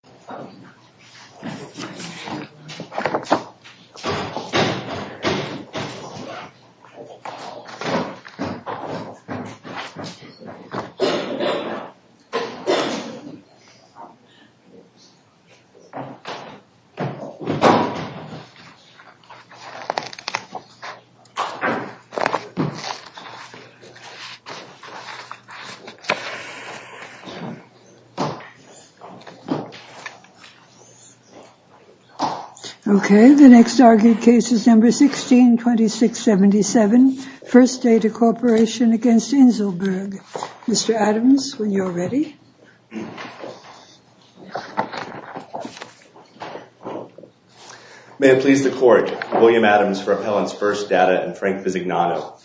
Inselberg Data Corporation v. Inselberg 162677 First Data Corporation v. Inselberg William Adams for Appellant's First Data and Frank Visignano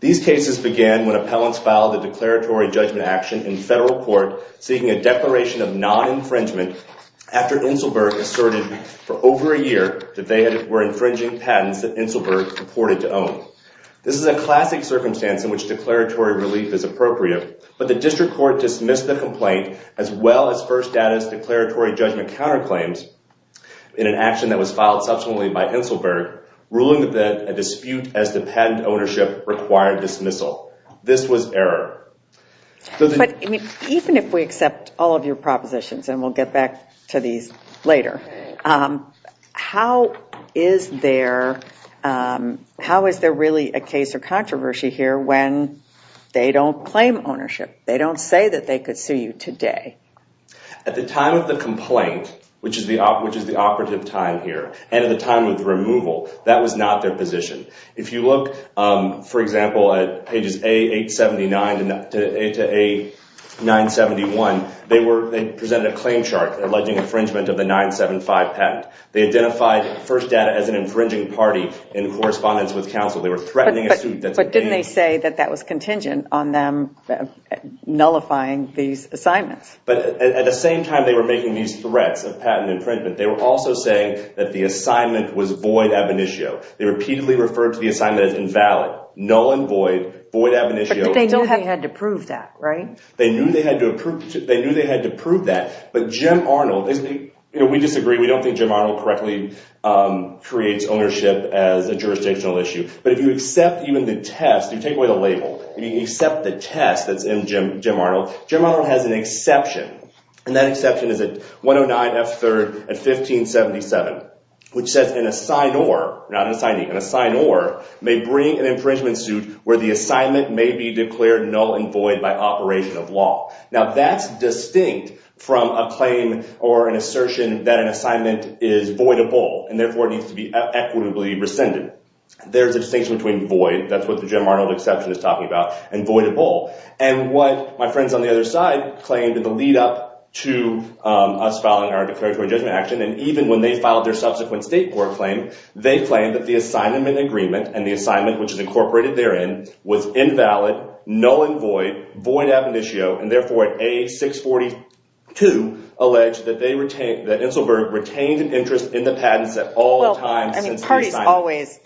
These cases began when appellants filed a declaratory judgment action in federal court seeking a declaration of non-infringement after Inselberg asserted for over a year that they were infringing patents that Inselberg reported to own. This is a classic circumstance in which declaratory relief is appropriate, but the district court dismissed the complaint as well as First Data's declaratory judgment counterclaims in an dismissal. This was error. But even if we accept all of your propositions, and we'll get back to these later, how is there really a case or controversy here when they don't claim ownership? They don't say that they could sue you today. At the time of the complaint, which is the operative time here, and at the time of the complaint, for example, at pages A879 to A971, they presented a claim chart alleging infringement of the 975 patent. They identified First Data as an infringing party in correspondence with counsel. They were threatening a suit. But didn't they say that that was contingent on them nullifying these assignments? But at the same time they were making these threats of patent infringement, they were also saying that the assignment was void ab initio. They repeatedly referred to the assignment as invalid, null and void, void ab initio. But they knew they had to prove that, right? They knew they had to prove that. But Jim Arnold, we disagree, we don't think Jim Arnold correctly creates ownership as a jurisdictional issue. But if you accept even the test, you take away the label, you accept the test that's in Jim Arnold, Jim Arnold has an exception. And that exception is at 109F3rd at 1577, which says an assignor, not an assignee, an assignor may bring an infringement suit where the assignment may be declared null and void by operation of law. Now that's distinct from a claim or an assertion that an assignment is voidable and therefore needs to be equitably rescinded. There's a distinction between void, that's what the Jim Arnold exception is talking about, and voidable. And what my friends on the other side claimed in the lead up to us filing our declaratory judgment action, and even when they filed their subsequent state court claim, they claimed that the assignment agreement, and the assignment which is incorporated therein, was invalid, null and void, void ab initio, and therefore at A642, alleged that Inselberg retained an interest in the patents at all times since the assignment. They always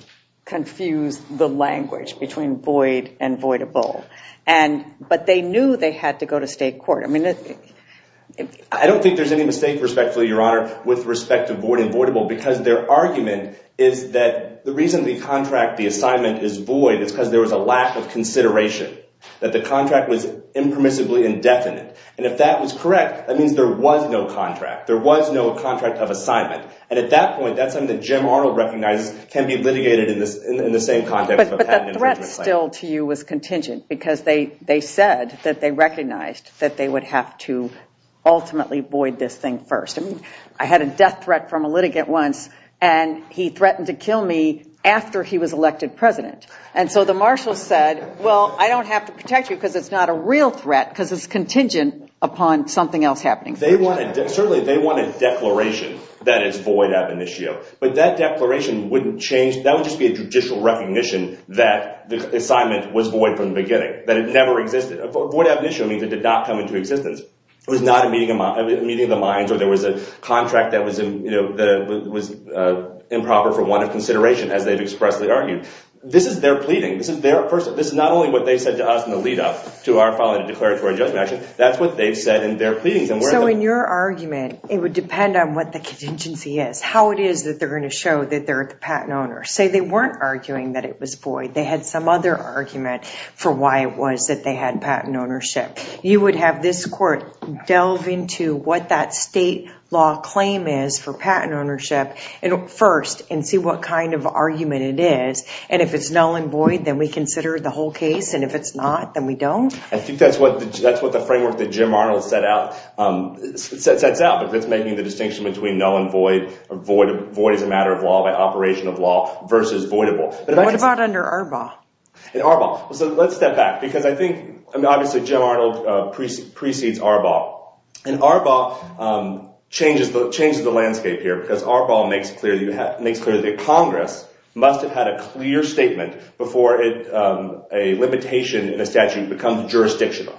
confuse the language between void and voidable. But they knew they had to go to state court. I don't think there's any mistake, respectfully, Your Honor, with respect to void and voidable because their argument is that the reason the contract, the assignment, is void is because there was a lack of consideration, that the contract was impermissibly indefinite. And if that was correct, that means there was no contract, there was no contract of assignment. And at that point, that's something Jim Arnold recognizes can be litigated in the same context of a patent infringement claim. But the threat still to you was contingent because they said that they recognized that they would have to ultimately void this thing first. I mean, I had a death threat from a litigant once, and he threatened to kill me after he was elected president. And so the marshal said, well, I don't have to protect you because it's not a real threat because it's contingent upon something else happening. Certainly, they want a declaration that is void ab initio. But that declaration wouldn't change. That would just be a judicial recognition that the assignment was void from the beginning, that it never existed. Void ab initio means it did not come into existence. It was not a meeting of the minds, or there was a contract that was improper for want of consideration, as they've expressly argued. This is their pleading. This is not only what they said to us in the lead-up to our filing a declaratory judgment action. That's what they've said in their pleadings. So in your argument, it would depend on what the contingency is, how it is that they're going to show that they're the patent owner. Say they weren't arguing that it was void. They had some other argument for why it was that they had patent ownership. You would have this court delve into what that state law claim is for patent ownership first and see what kind of argument it is. And if it's null and void, then we consider the whole case. And if it's not, then we don't. I think that's what the framework that Jim Arnold sets out. But it's making the distinction between null and void. Void is a matter of law by operation of law versus voidable. What about under ARBAW? ARBAW. So let's step back. Because I think, obviously, Jim Arnold precedes ARBAW. And ARBAW changes the landscape here. Because ARBAW makes clear that Congress must have had a clear statement before a limitation in a statute becomes jurisdictional.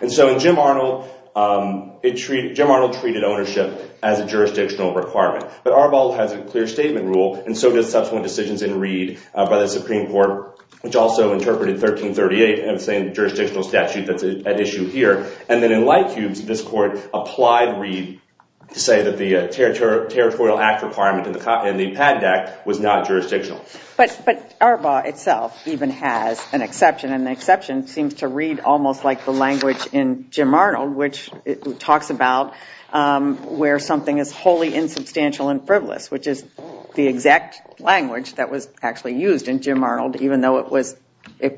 And so in Jim Arnold, Jim Arnold treated ownership as a jurisdictional requirement. But ARBAW has a clear statement rule. And so does subsequent decisions in Reed by the Supreme Court, which also interpreted 1338 as a jurisdictional statute that's at issue here. And then in Lightcubes, this court applied Reed to say that the Territorial Act requirement in the PADD Act was not jurisdictional. But ARBAW itself even has an exception. And the exception seems to read almost like the language in Jim Arnold, which talks about where something is wholly insubstantial and frivolous, which is the exact language that was actually used in Jim Arnold, even though it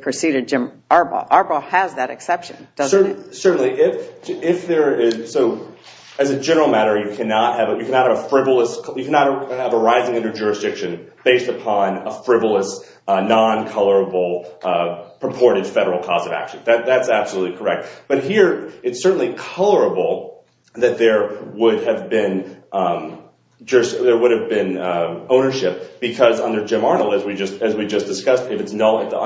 preceded ARBAW. ARBAW has that exception, doesn't it? Certainly. If there is. So as a general matter, you cannot have a frivolous. You cannot have a rising under jurisdiction based upon a frivolous, non-colorable, purported federal cause of action. That's absolutely correct. But here it's certainly colorable that there would have been ownership because under Jim Arnold, as we just discussed, if the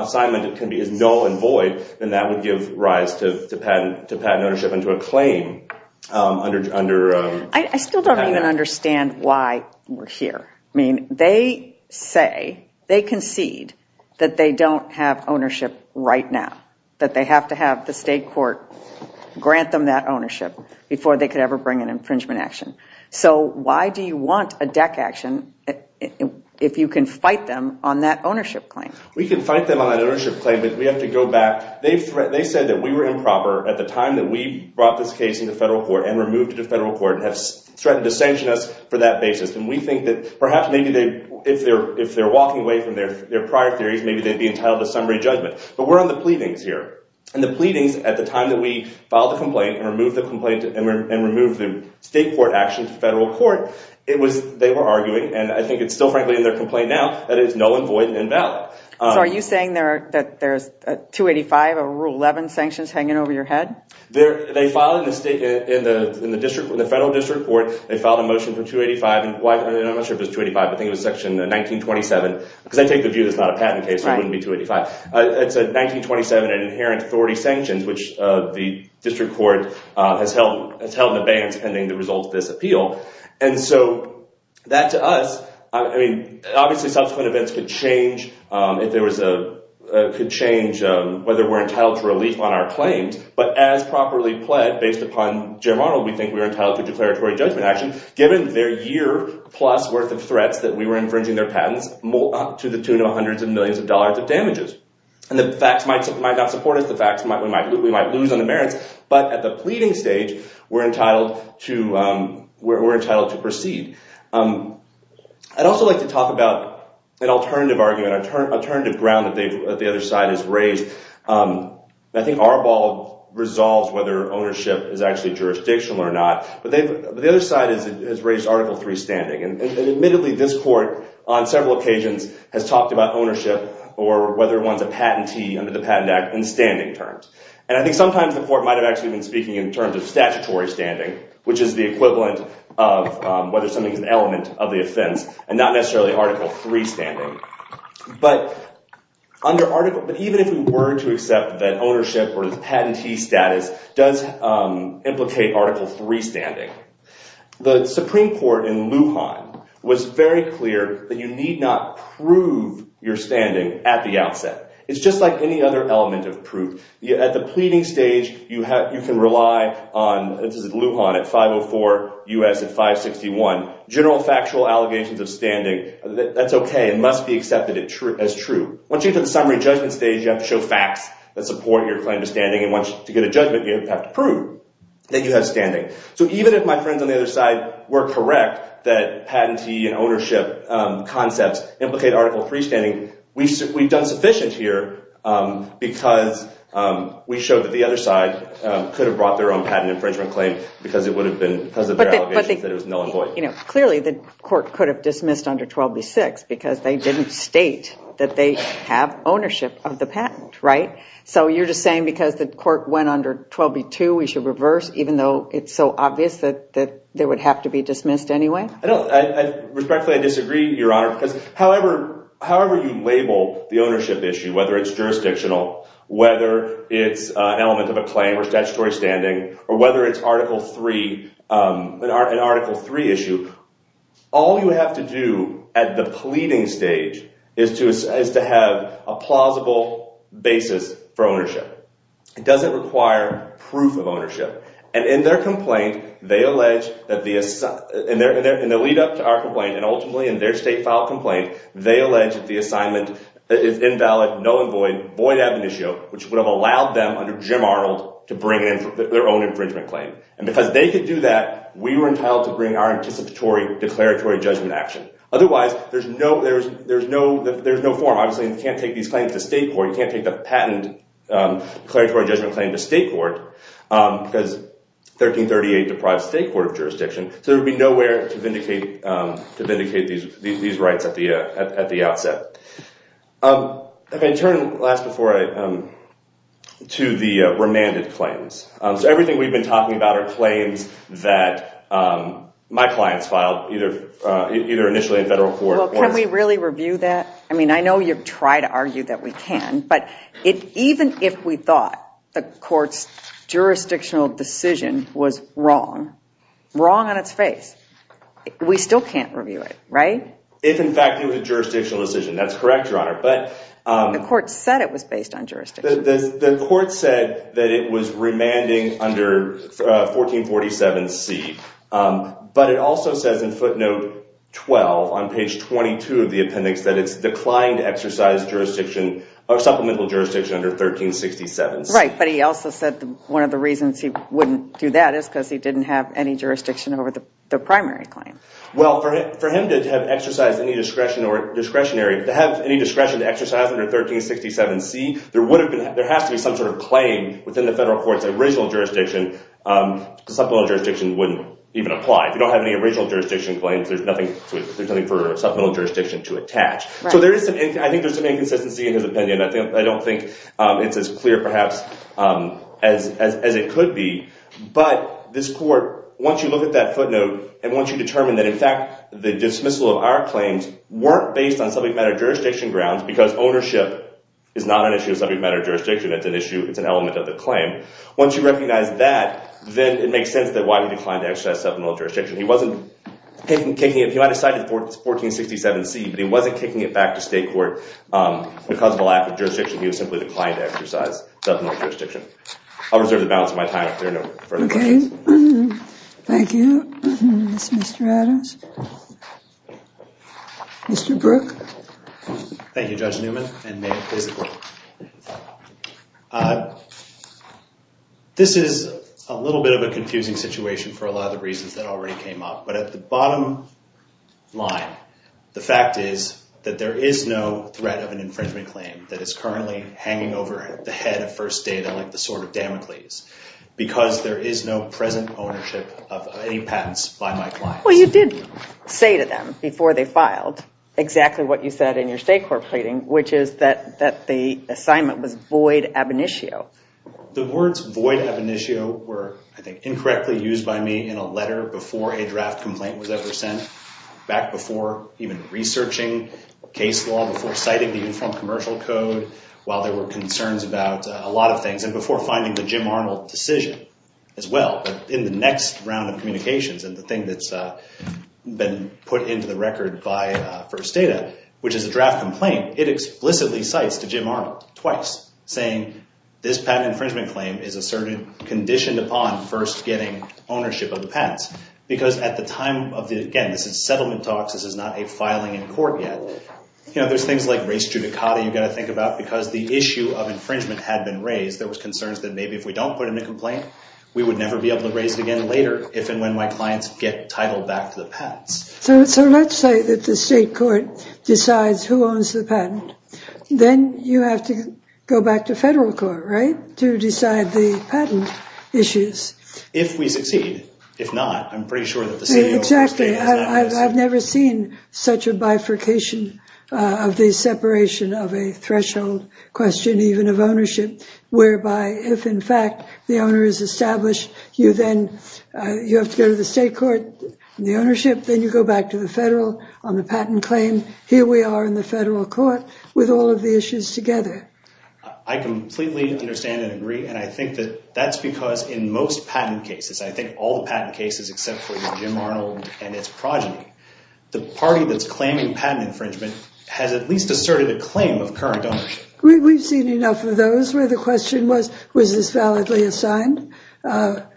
assignment is null and void, then that would give rise to patent ownership and to a claim. I still don't even understand why we're here. I mean, they say, they concede that they don't have ownership right now, that they have to have the state court grant them that ownership before they could ever bring an infringement action. So why do you want a DEC action if you can fight them on that ownership claim? We can fight them on that ownership claim, but we have to go back. They said that we were improper at the time that we brought this case into federal court and removed it to federal court and have threatened to sanction us for that basis. And we think that perhaps maybe if they're walking away from their prior theories, maybe they'd be entitled to summary judgment. But we're on the pleadings here. And the pleadings at the time that we filed the complaint and removed the state court action to federal court, they were arguing, and I think it's still frankly in their complaint now, that it is null and void and invalid. So are you saying that there's 285 of Rule 11 sanctions hanging over your head? They filed in the federal district court, they filed a motion for 285, and I'm not sure if it's 285, I think it was section 1927, because I take the view that it's not a patent case, so it wouldn't be 285. It's 1927 and inherent authority sanctions, which the district court has held in abeyance pending the results of this appeal. And so that to us, I mean, obviously subsequent events could change whether we're entitled to relief on our claims, but as properly pled based upon general model, we think we are entitled to declaratory judgment action given their year plus worth of threats that we were infringing their patents to the tune of hundreds of millions of dollars of damages. And the facts might not support us, we might lose on the merits, but at the pleading stage, we're entitled to proceed. I'd also like to talk about an alternative argument, alternative ground that the other side has raised. I think Arbol resolves whether ownership is actually jurisdictional or not, but the other side has raised Article III standing, and admittedly this court on several occasions has talked about ownership or whether one's a patentee under the Patent Act in standing terms. And I think sometimes the court might have actually been speaking in terms of statutory standing, which is the equivalent of whether something's an element of the offense, and not necessarily Article III standing. But even if we were to accept that ownership or the patentee status does implicate Article III standing, the Supreme Court in Lujan was very clear that you need not prove your standing at the outset. It's just like any other element of proof. At the pleading stage, you can rely on, this is Lujan at 504 U.S. at 561, general factual allegations of standing. That's okay. It must be accepted as true. Once you get to the summary judgment stage, you have to show facts that support your claim to standing, and once you get a judgment, you have to prove that you have standing. So even if my friends on the other side were correct that patentee and ownership concepts implicate Article III standing, we've done sufficient here because we showed that the other side could have brought their own patent infringement claim because of their allegations that it was null and void. Clearly, the court could have dismissed under 12b-6 because they didn't state that they have ownership of the patent, right? So you're just saying because the court went under 12b-2, we should reverse even though it's so obvious that they would have to be dismissed anyway? Respectfully, I disagree, Your Honor, because however you label the ownership issue, whether it's jurisdictional, whether it's an element of a claim or statutory standing, or whether it's an Article III issue, all you have to do at the pleading stage is to have a plausible basis for ownership. It doesn't require proof of ownership, and in the lead-up to our complaint and ultimately in their state-filed complaint, they allege that the assignment is invalid, null and void, void admonitio, which would have allowed them under Jim Arnold to bring in their own infringement claim. And because they could do that, we were entitled to bring our anticipatory declaratory judgment action. Otherwise, there's no forum. Obviously, you can't take these claims to state court. You can't take the patent declaratory judgment claim to state court because 1338 deprives state court of jurisdiction. So there would be nowhere to vindicate these rights at the outset. If I can turn, last before I—to the remanded claims. So everything we've been talking about are claims that my clients filed, either initially in federal court or— Well, can we really review that? I mean, I know you've tried to argue that we can, but even if we thought the court's jurisdictional decision was wrong, wrong on its face, we still can't review it, right? If, in fact, it was a jurisdictional decision. That's correct, Your Honor, but— The court said it was based on jurisdiction. The court said that it was remanding under 1447C. But it also says in footnote 12 on page 22 of the appendix that it's declined exercise jurisdiction or supplemental jurisdiction under 1367C. Right, but he also said one of the reasons he wouldn't do that is because he didn't have any jurisdiction over the primary claim. Well, for him to have exercised any discretion or discretionary— to have any discretion to exercise under 1367C, there has to be some sort of claim within the federal court's original jurisdiction. Supplemental jurisdiction wouldn't even apply. If you don't have any original jurisdiction claims, there's nothing for supplemental jurisdiction to attach. So I think there's some inconsistency in his opinion. I don't think it's as clear perhaps as it could be. But this court, once you look at that footnote and once you determine that, in fact, the dismissal of our claims weren't based on subject matter jurisdiction grounds because ownership is not an issue of subject matter jurisdiction. It's an element of the claim. Once you recognize that, then it makes sense that why he declined to exercise supplemental jurisdiction. He wasn't kicking it—he might have cited 1467C, but he wasn't kicking it back to state court because of a lack of jurisdiction. He was simply declining to exercise supplemental jurisdiction. I'll reserve the balance of my time if there are no further questions. Okay. Thank you. Mr. Adams? Mr. Brook? Thank you, Judge Newman, and may it please the court. This is a little bit of a confusing situation for a lot of the reasons that already came up, but at the bottom line, the fact is that there is no threat of an infringement claim that is currently hanging over the head of First Data like the Sword of Damocles because there is no present ownership of any patents by my clients. Well, you did say to them before they filed exactly what you said in your state court pleading, which is that the assignment was void ab initio. The words void ab initio were, I think, incorrectly used by me in a letter before a draft complaint was ever sent, back before even researching case law, before citing the Uniform Commercial Code, while there were concerns about a lot of things, and before finding the Jim Arnold decision as well. But in the next round of communications and the thing that's been put into the record by First Data, which is a draft complaint, it explicitly cites to Jim Arnold twice, saying this patent infringement claim is asserted conditioned upon first getting ownership of the patents because at the time of the, again, this is settlement talks. This is not a filing in court yet. You know, there's things like race judicata you've got to think about because the issue of infringement had been raised. There was concerns that maybe if we don't put in a complaint, we would never be able to raise it again later if and when my clients get titled back to the patents. So let's say that the state court decides who owns the patent. Then you have to go back to federal court, right, to decide the patent issues. If we succeed. If not, I'm pretty sure that the CEO of First Data is not. Exactly. I've never seen such a bifurcation of the separation of a threshold question, even of ownership, whereby if, in fact, the owner is established, you then you have to go to the state court, the ownership, then you go back to the federal on the patent claim. Here we are in the federal court with all of the issues together. I completely understand and agree. And I think that that's because in most patent cases, I think all the patent cases except for Jim Arnold and its progeny, the party that's claiming patent infringement has at least asserted a claim of current ownership. We've seen enough of those where the question was, was this validly assigned or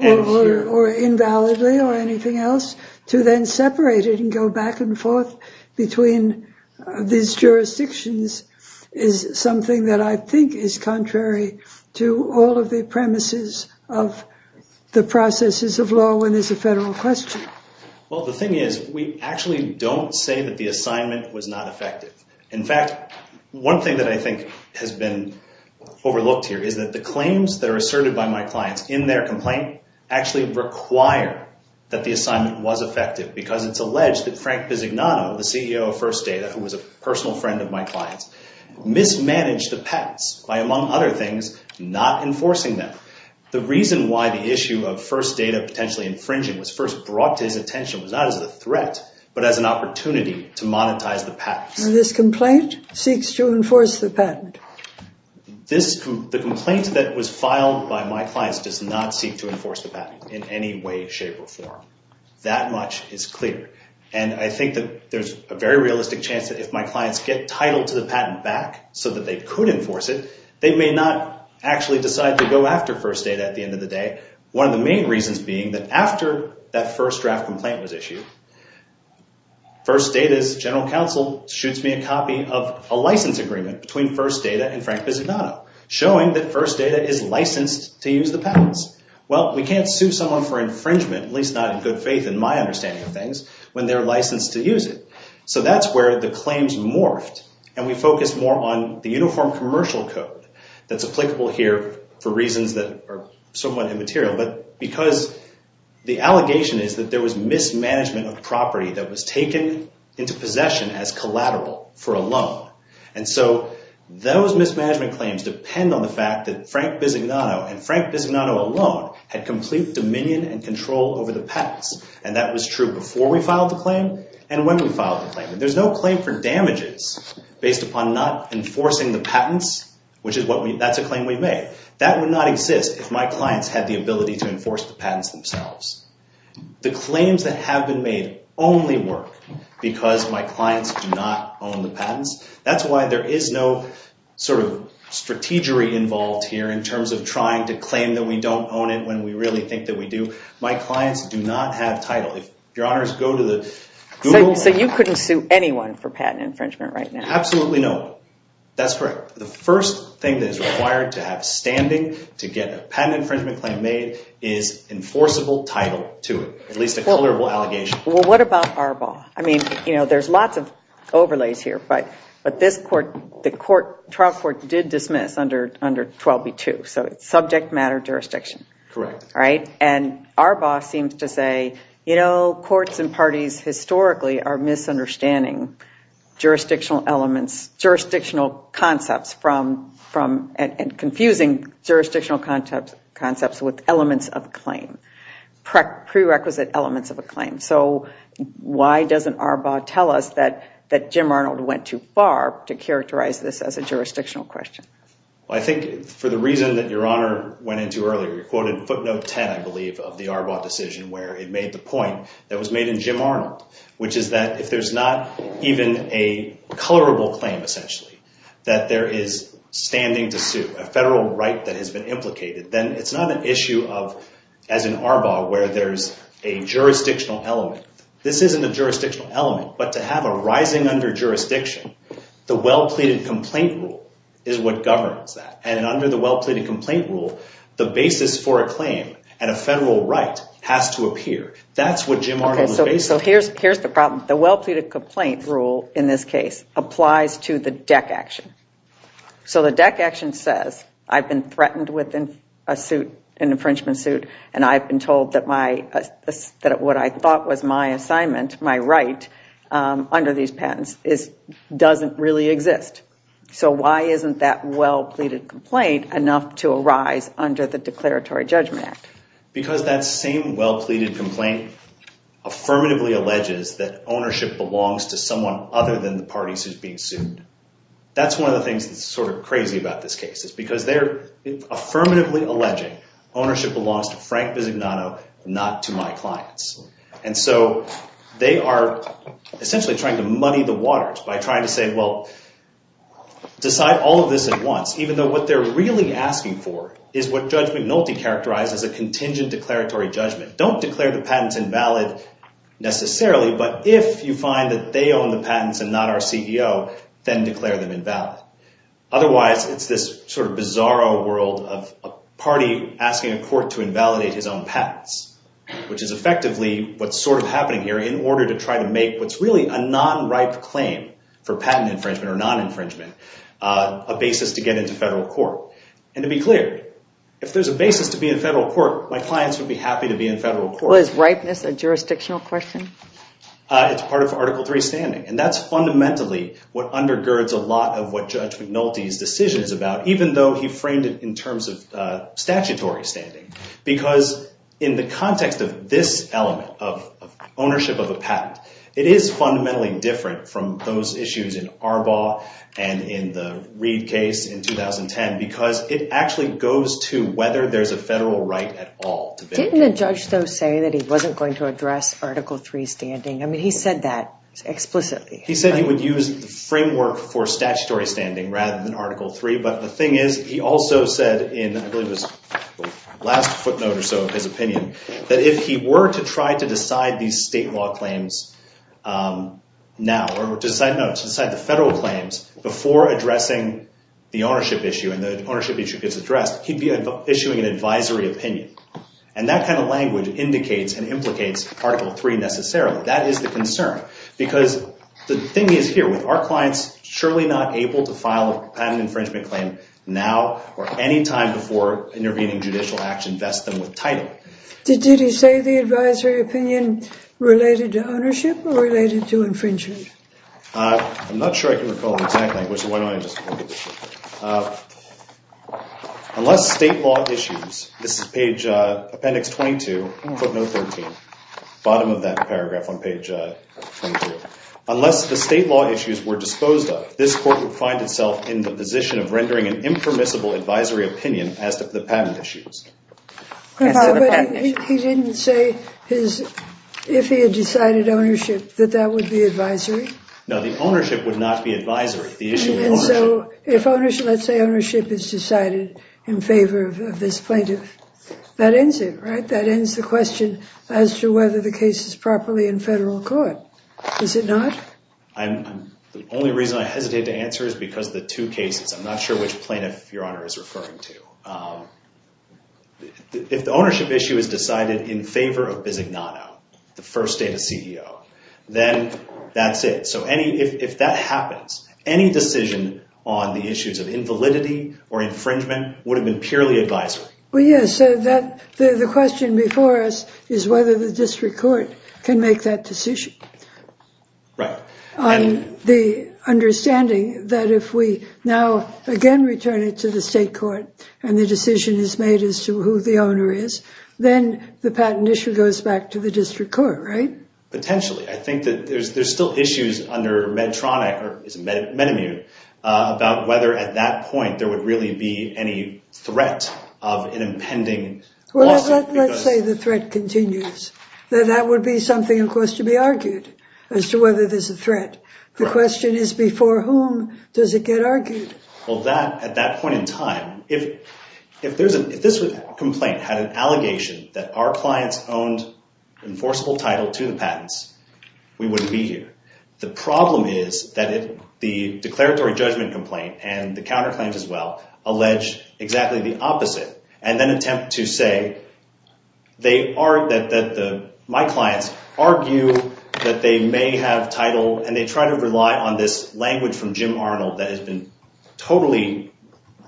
invalidly or anything else to then separate it and go back and forth between these jurisdictions is something that I think is contrary to all of the premises of the processes of law when there's a federal question. Well, the thing is we actually don't say that the assignment was not effective. In fact, one thing that I think has been overlooked here is that the claims that are asserted by my clients in their complaint actually require that the assignment was effective because it's alleged that Frank Bisignano, the CEO of First Data, who was a personal friend of my client's, mismanaged the patents by, among other things, not enforcing them. The reason why the issue of First Data potentially infringing was first brought to his attention was not as a threat but as an opportunity to monetize the patents. And this complaint seeks to enforce the patent? The complaint that was filed by my clients does not seek to enforce the patent in any way, shape, or form. That much is clear. And I think that there's a very realistic chance that if my clients get title to the patent back so that they could enforce it, they may not actually decide to go after First Data at the end of the day. One of the main reasons being that after that first draft complaint was issued, First Data's general counsel shoots me a copy of a license agreement between First Data and Frank Bisignano showing that First Data is licensed to use the patents. Well, we can't sue someone for infringement, at least not in good faith in my understanding of things, when they're licensed to use it. So that's where the claims morphed, and we focused more on the uniform commercial code that's applicable here for reasons that are somewhat immaterial because the allegation is that there was mismanagement of property that was taken into possession as collateral for a loan. And so those mismanagement claims depend on the fact that Frank Bisignano and Frank Bisignano alone had complete dominion and control over the patents. And that was true before we filed the claim and when we filed the claim. That's a claim we've made. That would not exist if my clients had the ability to enforce the patents themselves. The claims that have been made only work because my clients do not own the patents. That's why there is no sort of strategy involved here in terms of trying to claim that we don't own it when we really think that we do. My clients do not have title. If your honors go to the Google... So you couldn't sue anyone for patent infringement right now? Absolutely no. That's correct. The first thing that is required to have standing to get a patent infringement claim made is enforceable title to it, at least a colorable allegation. Well, what about Arbaugh? I mean, you know, there's lots of overlays here, but the trial court did dismiss under 12b-2. So it's subject matter jurisdiction. Correct. And Arbaugh seems to say, you know, courts and parties historically are misunderstanding jurisdictional elements, jurisdictional concepts, and confusing jurisdictional concepts with elements of a claim, prerequisite elements of a claim. So why doesn't Arbaugh tell us that Jim Arnold went too far to characterize this as a jurisdictional question? Well, I think for the reason that Your Honor went into earlier, you quoted footnote 10, I believe, of the Arbaugh decision where it made the point that was made in Jim Arnold, which is that if there's not even a colorable claim, essentially, that there is standing to sue, a federal right that has been implicated, then it's not an issue of, as in Arbaugh, where there's a jurisdictional element. This isn't a jurisdictional element, but to have a rising under jurisdiction, the well-pleaded complaint rule is what governs that. And under the well-pleaded complaint rule, the basis for a claim and a federal right has to appear. That's what Jim Arnold was basing it on. Okay, so here's the problem. The well-pleaded complaint rule in this case applies to the DEC action. So the DEC action says I've been threatened with an infringement suit and I've been told that what I thought was my assignment, my right under these patents doesn't really exist. So why isn't that well-pleaded complaint enough to arise under the Declaratory Judgment Act? Because that same well-pleaded complaint affirmatively alleges that ownership belongs to someone other than the parties who's being sued. That's one of the things that's sort of crazy about this case is because they're affirmatively alleging ownership belongs to Frank Bisognano, not to my clients. And so they are essentially trying to money the waters by trying to say, well, decide all of this at once, even though what they're really asking for is what Judge McNulty characterized as a contingent declaratory judgment. Don't declare the patents invalid necessarily, but if you find that they own the patents and not our CEO, then declare them invalid. Otherwise, it's this sort of bizarro world of a party asking a court to invalidate his own patents, which is effectively what's sort of happening here in order to try to make what's really a non-ripe claim for patent infringement or non-infringement a basis to get into federal court. And to be clear, if there's a basis to be in federal court, my clients would be happy to be in federal court. Well, is ripeness a jurisdictional question? It's part of Article III standing, and that's fundamentally what undergirds a lot of what Judge McNulty's decision is about, even though he framed it in terms of statutory standing. Because in the context of this element, of ownership of a patent, it is fundamentally different from those issues in Arbaugh and in the Reid case in 2010, because it actually goes to whether there's a federal right at all. Didn't the judge, though, say that he wasn't going to address Article III standing? I mean, he said that explicitly. He said he would use the framework for statutory standing rather than Article III, but the thing is, he also said in the last footnote or so of his opinion, that if he were to try to decide these state law claims now, or to decide the federal claims before addressing the ownership issue and the ownership issue gets addressed, he'd be issuing an advisory opinion. And that kind of language indicates and implicates Article III necessarily. That is the concern, because the thing is here, with our clients surely not able to file a patent infringement claim now or any time before intervening judicial action vests them with title. Did he say the advisory opinion related to ownership or related to infringement? I'm not sure I can recall exactly. Why don't I just look at this here? Unless state law issues, this is page, appendix 22, footnote 13, bottom of that paragraph on page 22. Unless the state law issues were disposed of, this court would find itself in the position of rendering an impermissible advisory opinion as to the patent issues. But he didn't say if he had decided ownership that that would be advisory? No, the ownership would not be advisory. And so if let's say ownership is decided in favor of this plaintiff, that ends it, right? That ends the question as to whether the case is properly in federal court. Is it not? The only reason I hesitate to answer is because of the two cases. I'm not sure which plaintiff Your Honor is referring to. If the ownership issue is decided in favor of Bisignano, the first data CEO, then that's it. So if that happens, any decision on the issues of invalidity or infringement would have been purely advisory. Well, yes, so the question before us is whether the district court can make that decision. Right. On the understanding that if we now again return it to the state court and the decision is made as to who the owner is, then the patent issue goes back to the district court, right? Potentially. I think that there's still issues under Medtronic, or is it Medimmune, about whether at that point there would really be any threat of an impending lawsuit. Let's say the threat continues. That would be something, of course, to be argued as to whether there's a threat. The question is before whom does it get argued? Well, at that point in time, if this complaint had an allegation that our clients owned enforceable title to the patents, we wouldn't be here. The problem is that if the declaratory judgment complaint and the counterclaims as well allege exactly the opposite and then attempt to say that my clients argue that they may have title and they try to rely on this language from Jim Arnold that has been totally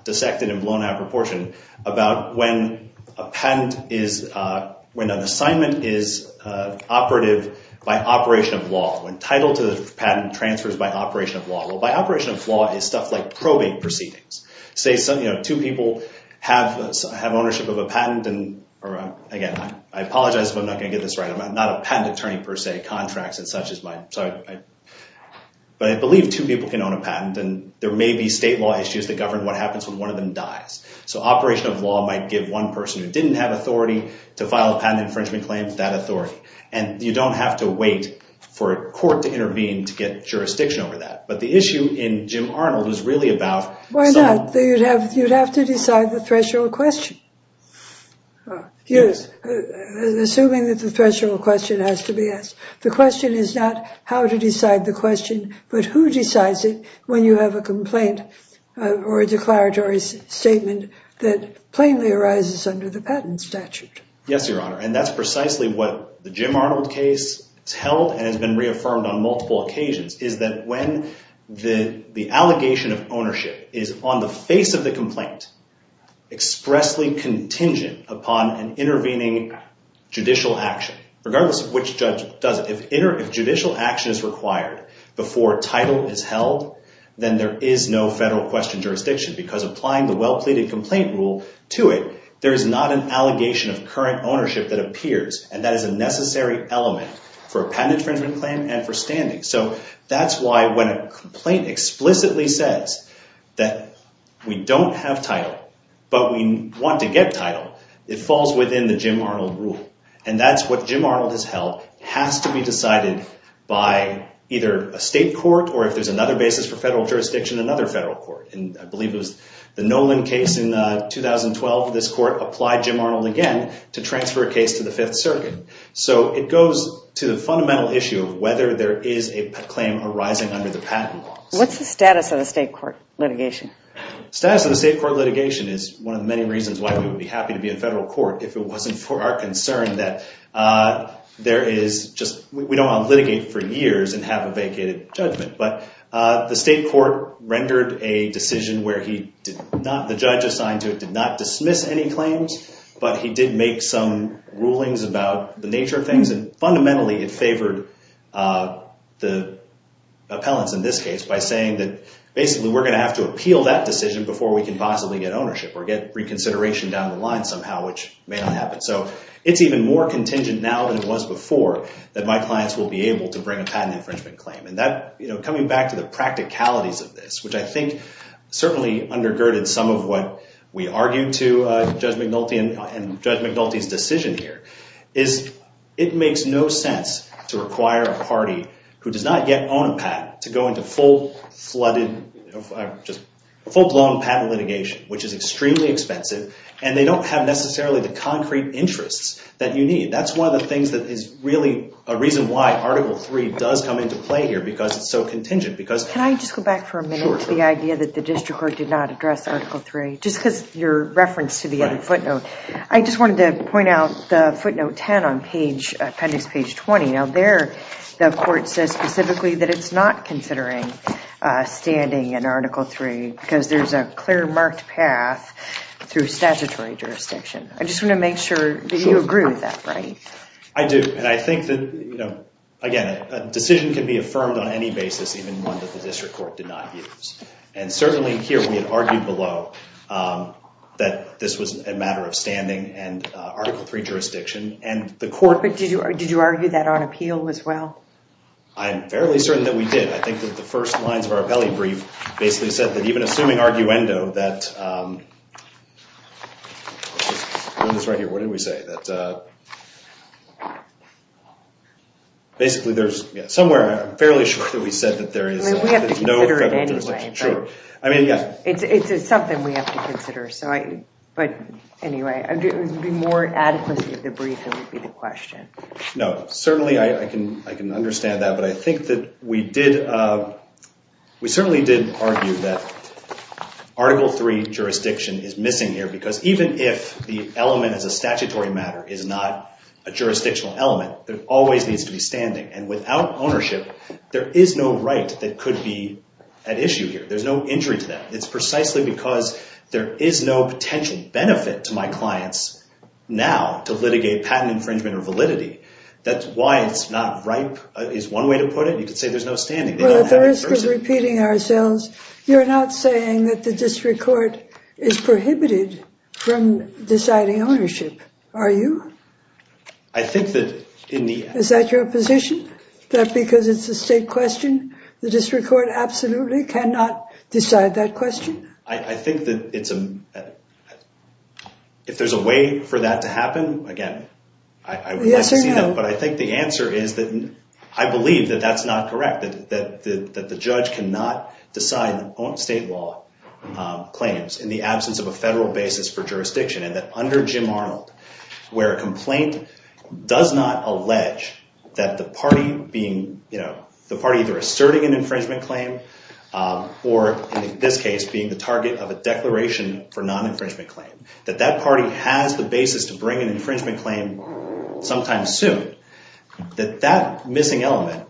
dissected and blown out of proportion about when an assignment is operative by operation of law, when title to the patent transfers by operation of law. Well, by operation of law is stuff like probate proceedings. Two people have ownership of a patent. Again, I apologize if I'm not going to get this right. I'm not a patent attorney per se. But I believe two people can own a patent and there may be state law issues that govern what happens when one of them dies. So operation of law might give one person who didn't have authority to file a patent infringement claim that authority. And you don't have to wait for a court to intervene to get jurisdiction over that. But the issue in Jim Arnold is really about... Why not? You'd have to decide the threshold question. Assuming that the threshold question has to be asked. The question is not how to decide the question but who decides it when you have a complaint or a declaratory statement that plainly arises under the patent statute. Yes, Your Honor. And that's precisely what the Jim Arnold case has held and has been reaffirmed on multiple occasions is that when the allegation of ownership is on the face of the complaint expressly contingent upon an intervening judicial action, regardless of which judge does it, if judicial action is required before title is held, then there is no federal question jurisdiction because applying the well-pleaded complaint rule to it, there is not an allegation of current ownership that appears and that is a necessary element for a patent infringement claim and for standing. So that's why when a complaint explicitly says that we don't have title but we want to get title, it falls within the Jim Arnold rule. And that's what Jim Arnold has held, has to be decided by either a state court or if there's another basis for federal jurisdiction, another federal court. And I believe it was the Nolan case in 2012, this court applied Jim Arnold again to transfer a case to the Fifth Circuit. So it goes to the fundamental issue of whether there is a claim arising under the patent laws. What's the status of the state court litigation? The status of the state court litigation is one of the many reasons why we would be happy to be in federal court if it wasn't for our concern that there is just, we don't want to litigate for years and have a vacated judgment. But the state court rendered a decision where he did not, the judge assigned to it, did not dismiss any claims, but he did make some rulings about the nature of things and fundamentally it favored the appellants in this case by saying that basically we're going to have to appeal that decision before we can possibly get ownership or get reconsideration down the line somehow, which may not happen. So it's even more contingent now than it was before that my clients will be able to bring a patent infringement claim. And that, coming back to the practicalities of this, which I think certainly undergirded some of what we argued to Judge McNulty and Judge McNulty's decision here, is it makes no sense to require a party who does not yet own a patent to go into full-blown patent litigation, which is extremely expensive, and they don't have necessarily the concrete interests that you need. That's one of the things that is really a reason why Article III does come into play here because it's so contingent. Can I just go back for a minute to the idea that the district court did not address Article III, just because your reference to the other footnote. I just wanted to point out the footnote 10 on appendix page 20. Now there, the court says specifically that it's not considering standing in Article III because there's a clear marked path through statutory jurisdiction. I just want to make sure that you agree with that, right? I do, and I think that, again, a decision can be affirmed on any basis, even one that the district court did not use. And certainly here we had argued below that this was a matter of standing and Article III jurisdiction. But did you argue that on appeal as well? I'm fairly certain that we did. I think that the first lines of our appellee brief basically said that even assuming arguendo, that, I'll just put this right here. What did we say? Basically there's somewhere, I'm fairly sure that we said that there is no federal jurisdiction. We have to consider it anyway. It's something we have to consider. But anyway, it would be more adequate if the brief would be the question. No, certainly I can understand that. But I think that we did, we certainly did argue that Article III jurisdiction is missing here because even if the element as a statutory matter is not a jurisdictional element, it always needs to be standing. And without ownership, there is no right that could be at issue here. There's no injury to that. It's precisely because there is no potential benefit to my clients now to litigate patent infringement or validity. That's why it's not ripe, is one way to put it. You could say there's no standing. They don't have it in person. Well, for the risk of repeating ourselves, you're not saying that the district court is prohibited from deciding ownership, are you? I think that in the... Is that your position? That because it's a state question, the district court absolutely cannot decide that question? I think that it's a... If there's a way for that to happen, again, I would like to see that. But I think the answer is that I believe that that's not correct, that the judge cannot decide on state law claims in the absence of a federal basis for jurisdiction and that under Jim Arnold, where a complaint does not allege that the party being, you know, the party either asserting an infringement claim or, in this case, being the target of a declaration for non-infringement claim, that that party has the basis to bring an infringement claim sometime soon, that that missing element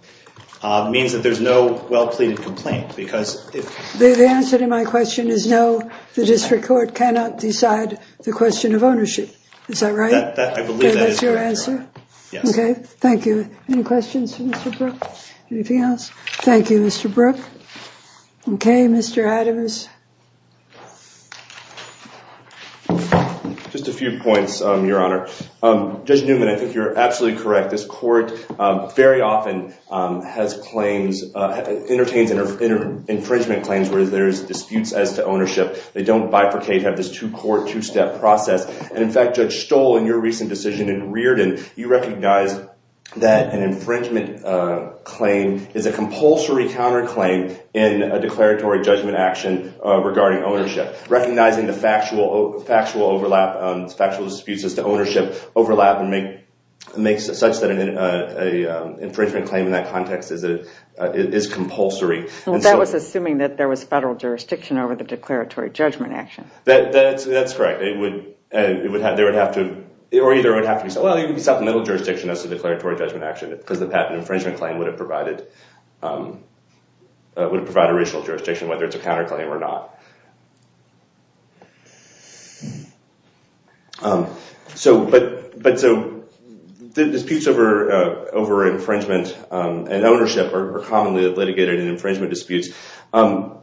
means that there's no well-pleaded complaint because... The answer to my question is no, the district court cannot decide the question of ownership. Is that right? I believe that is correct. That's your answer? Yes. Okay, thank you. Any questions for Mr. Brooke? Anything else? Thank you, Mr. Brooke. Okay, Mr. Adams. Just a few points, Your Honor. Judge Newman, I think you're absolutely correct. This court very often has claims, entertains infringement claims where there's disputes as to ownership. They don't bifurcate, have this two-court, two-step process. And in fact, Judge Stoll, in your recent decision in Reardon, you recognized that an infringement claim is a compulsory counterclaim in a declaratory judgment action regarding ownership. Recognizing the factual overlap, factual disputes as to ownership overlap and makes it such that an infringement claim in that context is compulsory. That was assuming that there was federal jurisdiction over the declaratory judgment action. That's correct. They would have to... Supplemental jurisdiction as to declaratory judgment action because the patent infringement claim would have provided original jurisdiction, whether it's a counterclaim or not. The disputes over infringement and ownership are commonly litigated in infringement disputes. I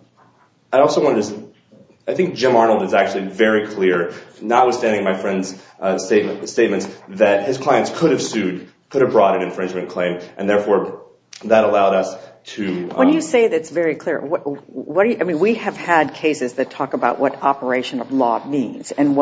think Jim Arnold is actually very clear, notwithstanding my friend's statements, that his clients could have sued, could have brought an infringement claim, and therefore that allowed us to... When you say that's very clear, we have had cases that talk about what operation of law means. And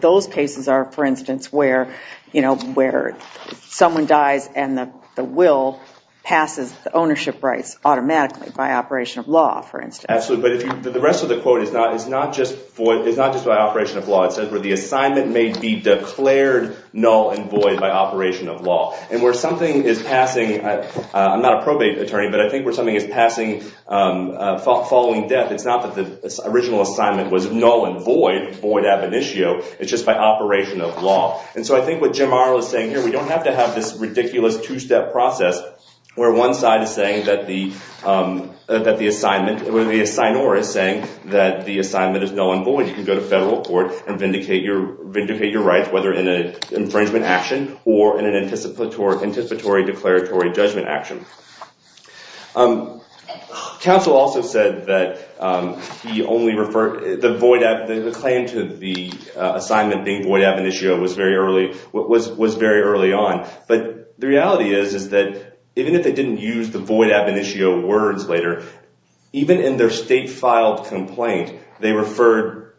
those cases are, for instance, where someone dies and the will passes the ownership rights automatically by operation of law, for instance. Absolutely, but the rest of the quote is not just by operation of law. It says where the assignment may be declared null and void by operation of law. And where something is passing... I'm not a probate attorney, but I think where something is passing, following death, it's not that the original assignment was null and void, void ab initio, it's just by operation of law. And so I think what Jim Arnold is saying here, we don't have to have this ridiculous two-step process where one side is saying that the assignment, where the assignor is saying that the assignment is null and void. You can go to federal court and vindicate your rights, whether in an infringement action or in an anticipatory declaratory judgment action. Counsel also said that the claim to the assignment being void ab initio was very early on. But the reality is that even if they didn't use the void ab initio words later, even in their state-filed complaint, they referred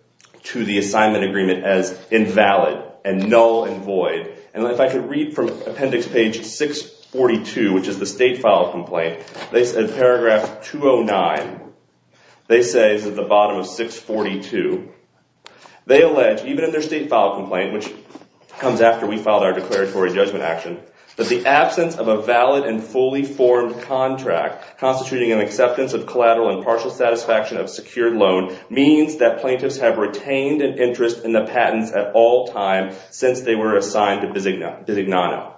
to the assignment agreement as invalid and null and void. And if I could read from appendix page 642, which is the state-filed complaint, in paragraph 209, they say, this is at the bottom of 642, they allege, even in their state-filed complaint, which comes after we filed our declaratory judgment action, that the absence of a valid and fully formed contract constituting an acceptance of collateral and partial satisfaction of secured loan means that plaintiffs have retained an interest in the patents at all time since they were assigned to Bisignano.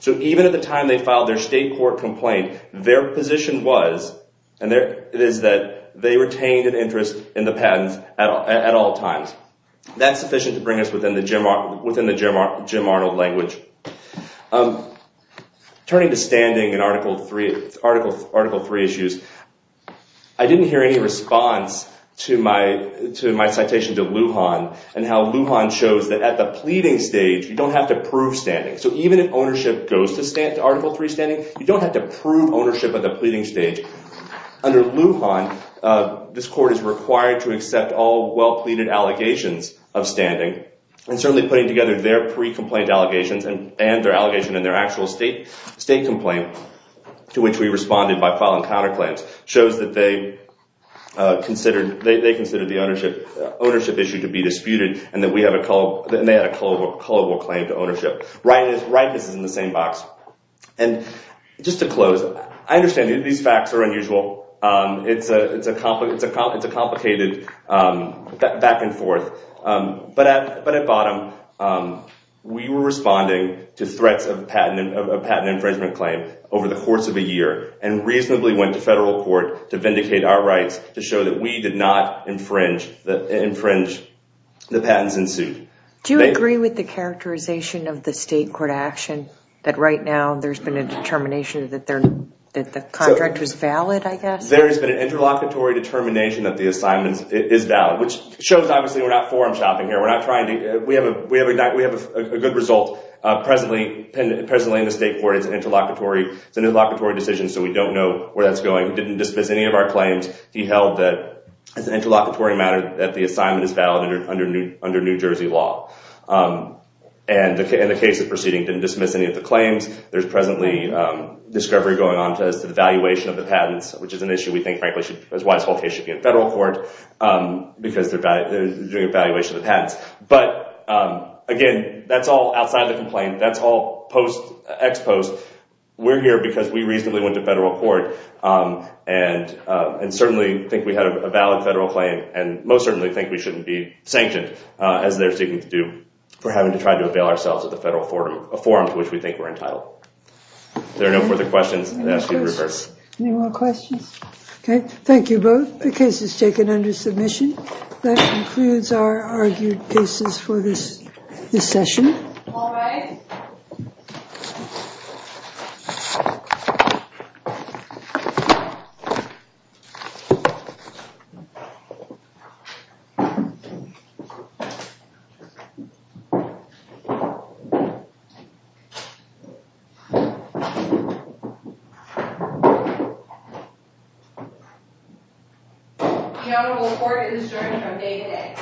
So even at the time they filed their state-court complaint, their position was, and it is that they retained an interest in the patents at all times. That's sufficient to bring us within the Jim Arnold language. Turning to standing in Article III issues, I didn't hear any response to my citation to Lujan and how Lujan shows that at the pleading stage, you don't have to prove standing. So even if ownership goes to Article III standing, you don't have to prove ownership at the pleading stage. Under Lujan, this court is required to accept all well-pleaded allegations of standing and certainly putting together their pre-complaint allegations and their allegation in their actual state complaint to which we responded by filing counterclaims shows that they considered the ownership issue to be disputed and they had a culpable claim to ownership. Rightness is in the same box. And just to close, I understand these facts are unusual. It's a complicated back and forth. But at bottom, we were responding to threats of a patent infringement claim over the course of a year and reasonably went to federal court to vindicate our rights to show that we did not infringe the patents in suit. Do you agree with the characterization of the state court action that right now there's been a determination that the contract was valid, I guess? There has been an interlocutory determination that the assignment is valid, which shows obviously we're not forum shopping here. We have a good result presently in the state court. It's an interlocutory decision, so we don't know where that's going. We didn't dismiss any of our claims. He held that as an interlocutory matter that the assignment is valid under New Jersey law. And the case of proceeding didn't dismiss any of the claims. There's presently discovery going on as to the valuation of the patents, which is an issue we think, frankly, is why this whole case should be in federal court because they're doing evaluation of the patents. But, again, that's all outside the complaint. That's all ex post. We're here because we reasonably went to federal court and certainly think we had a valid federal claim and most certainly think we shouldn't be sanctioned, as they're seeking to do, for having to try to avail ourselves of the federal forum to which we think we're entitled. If there are no further questions, I'll ask you to reverse. Any more questions? Okay, thank you both. The case is taken under submission. That concludes our argued cases for this session. All rise. The Honorable Court is adjourned from day today.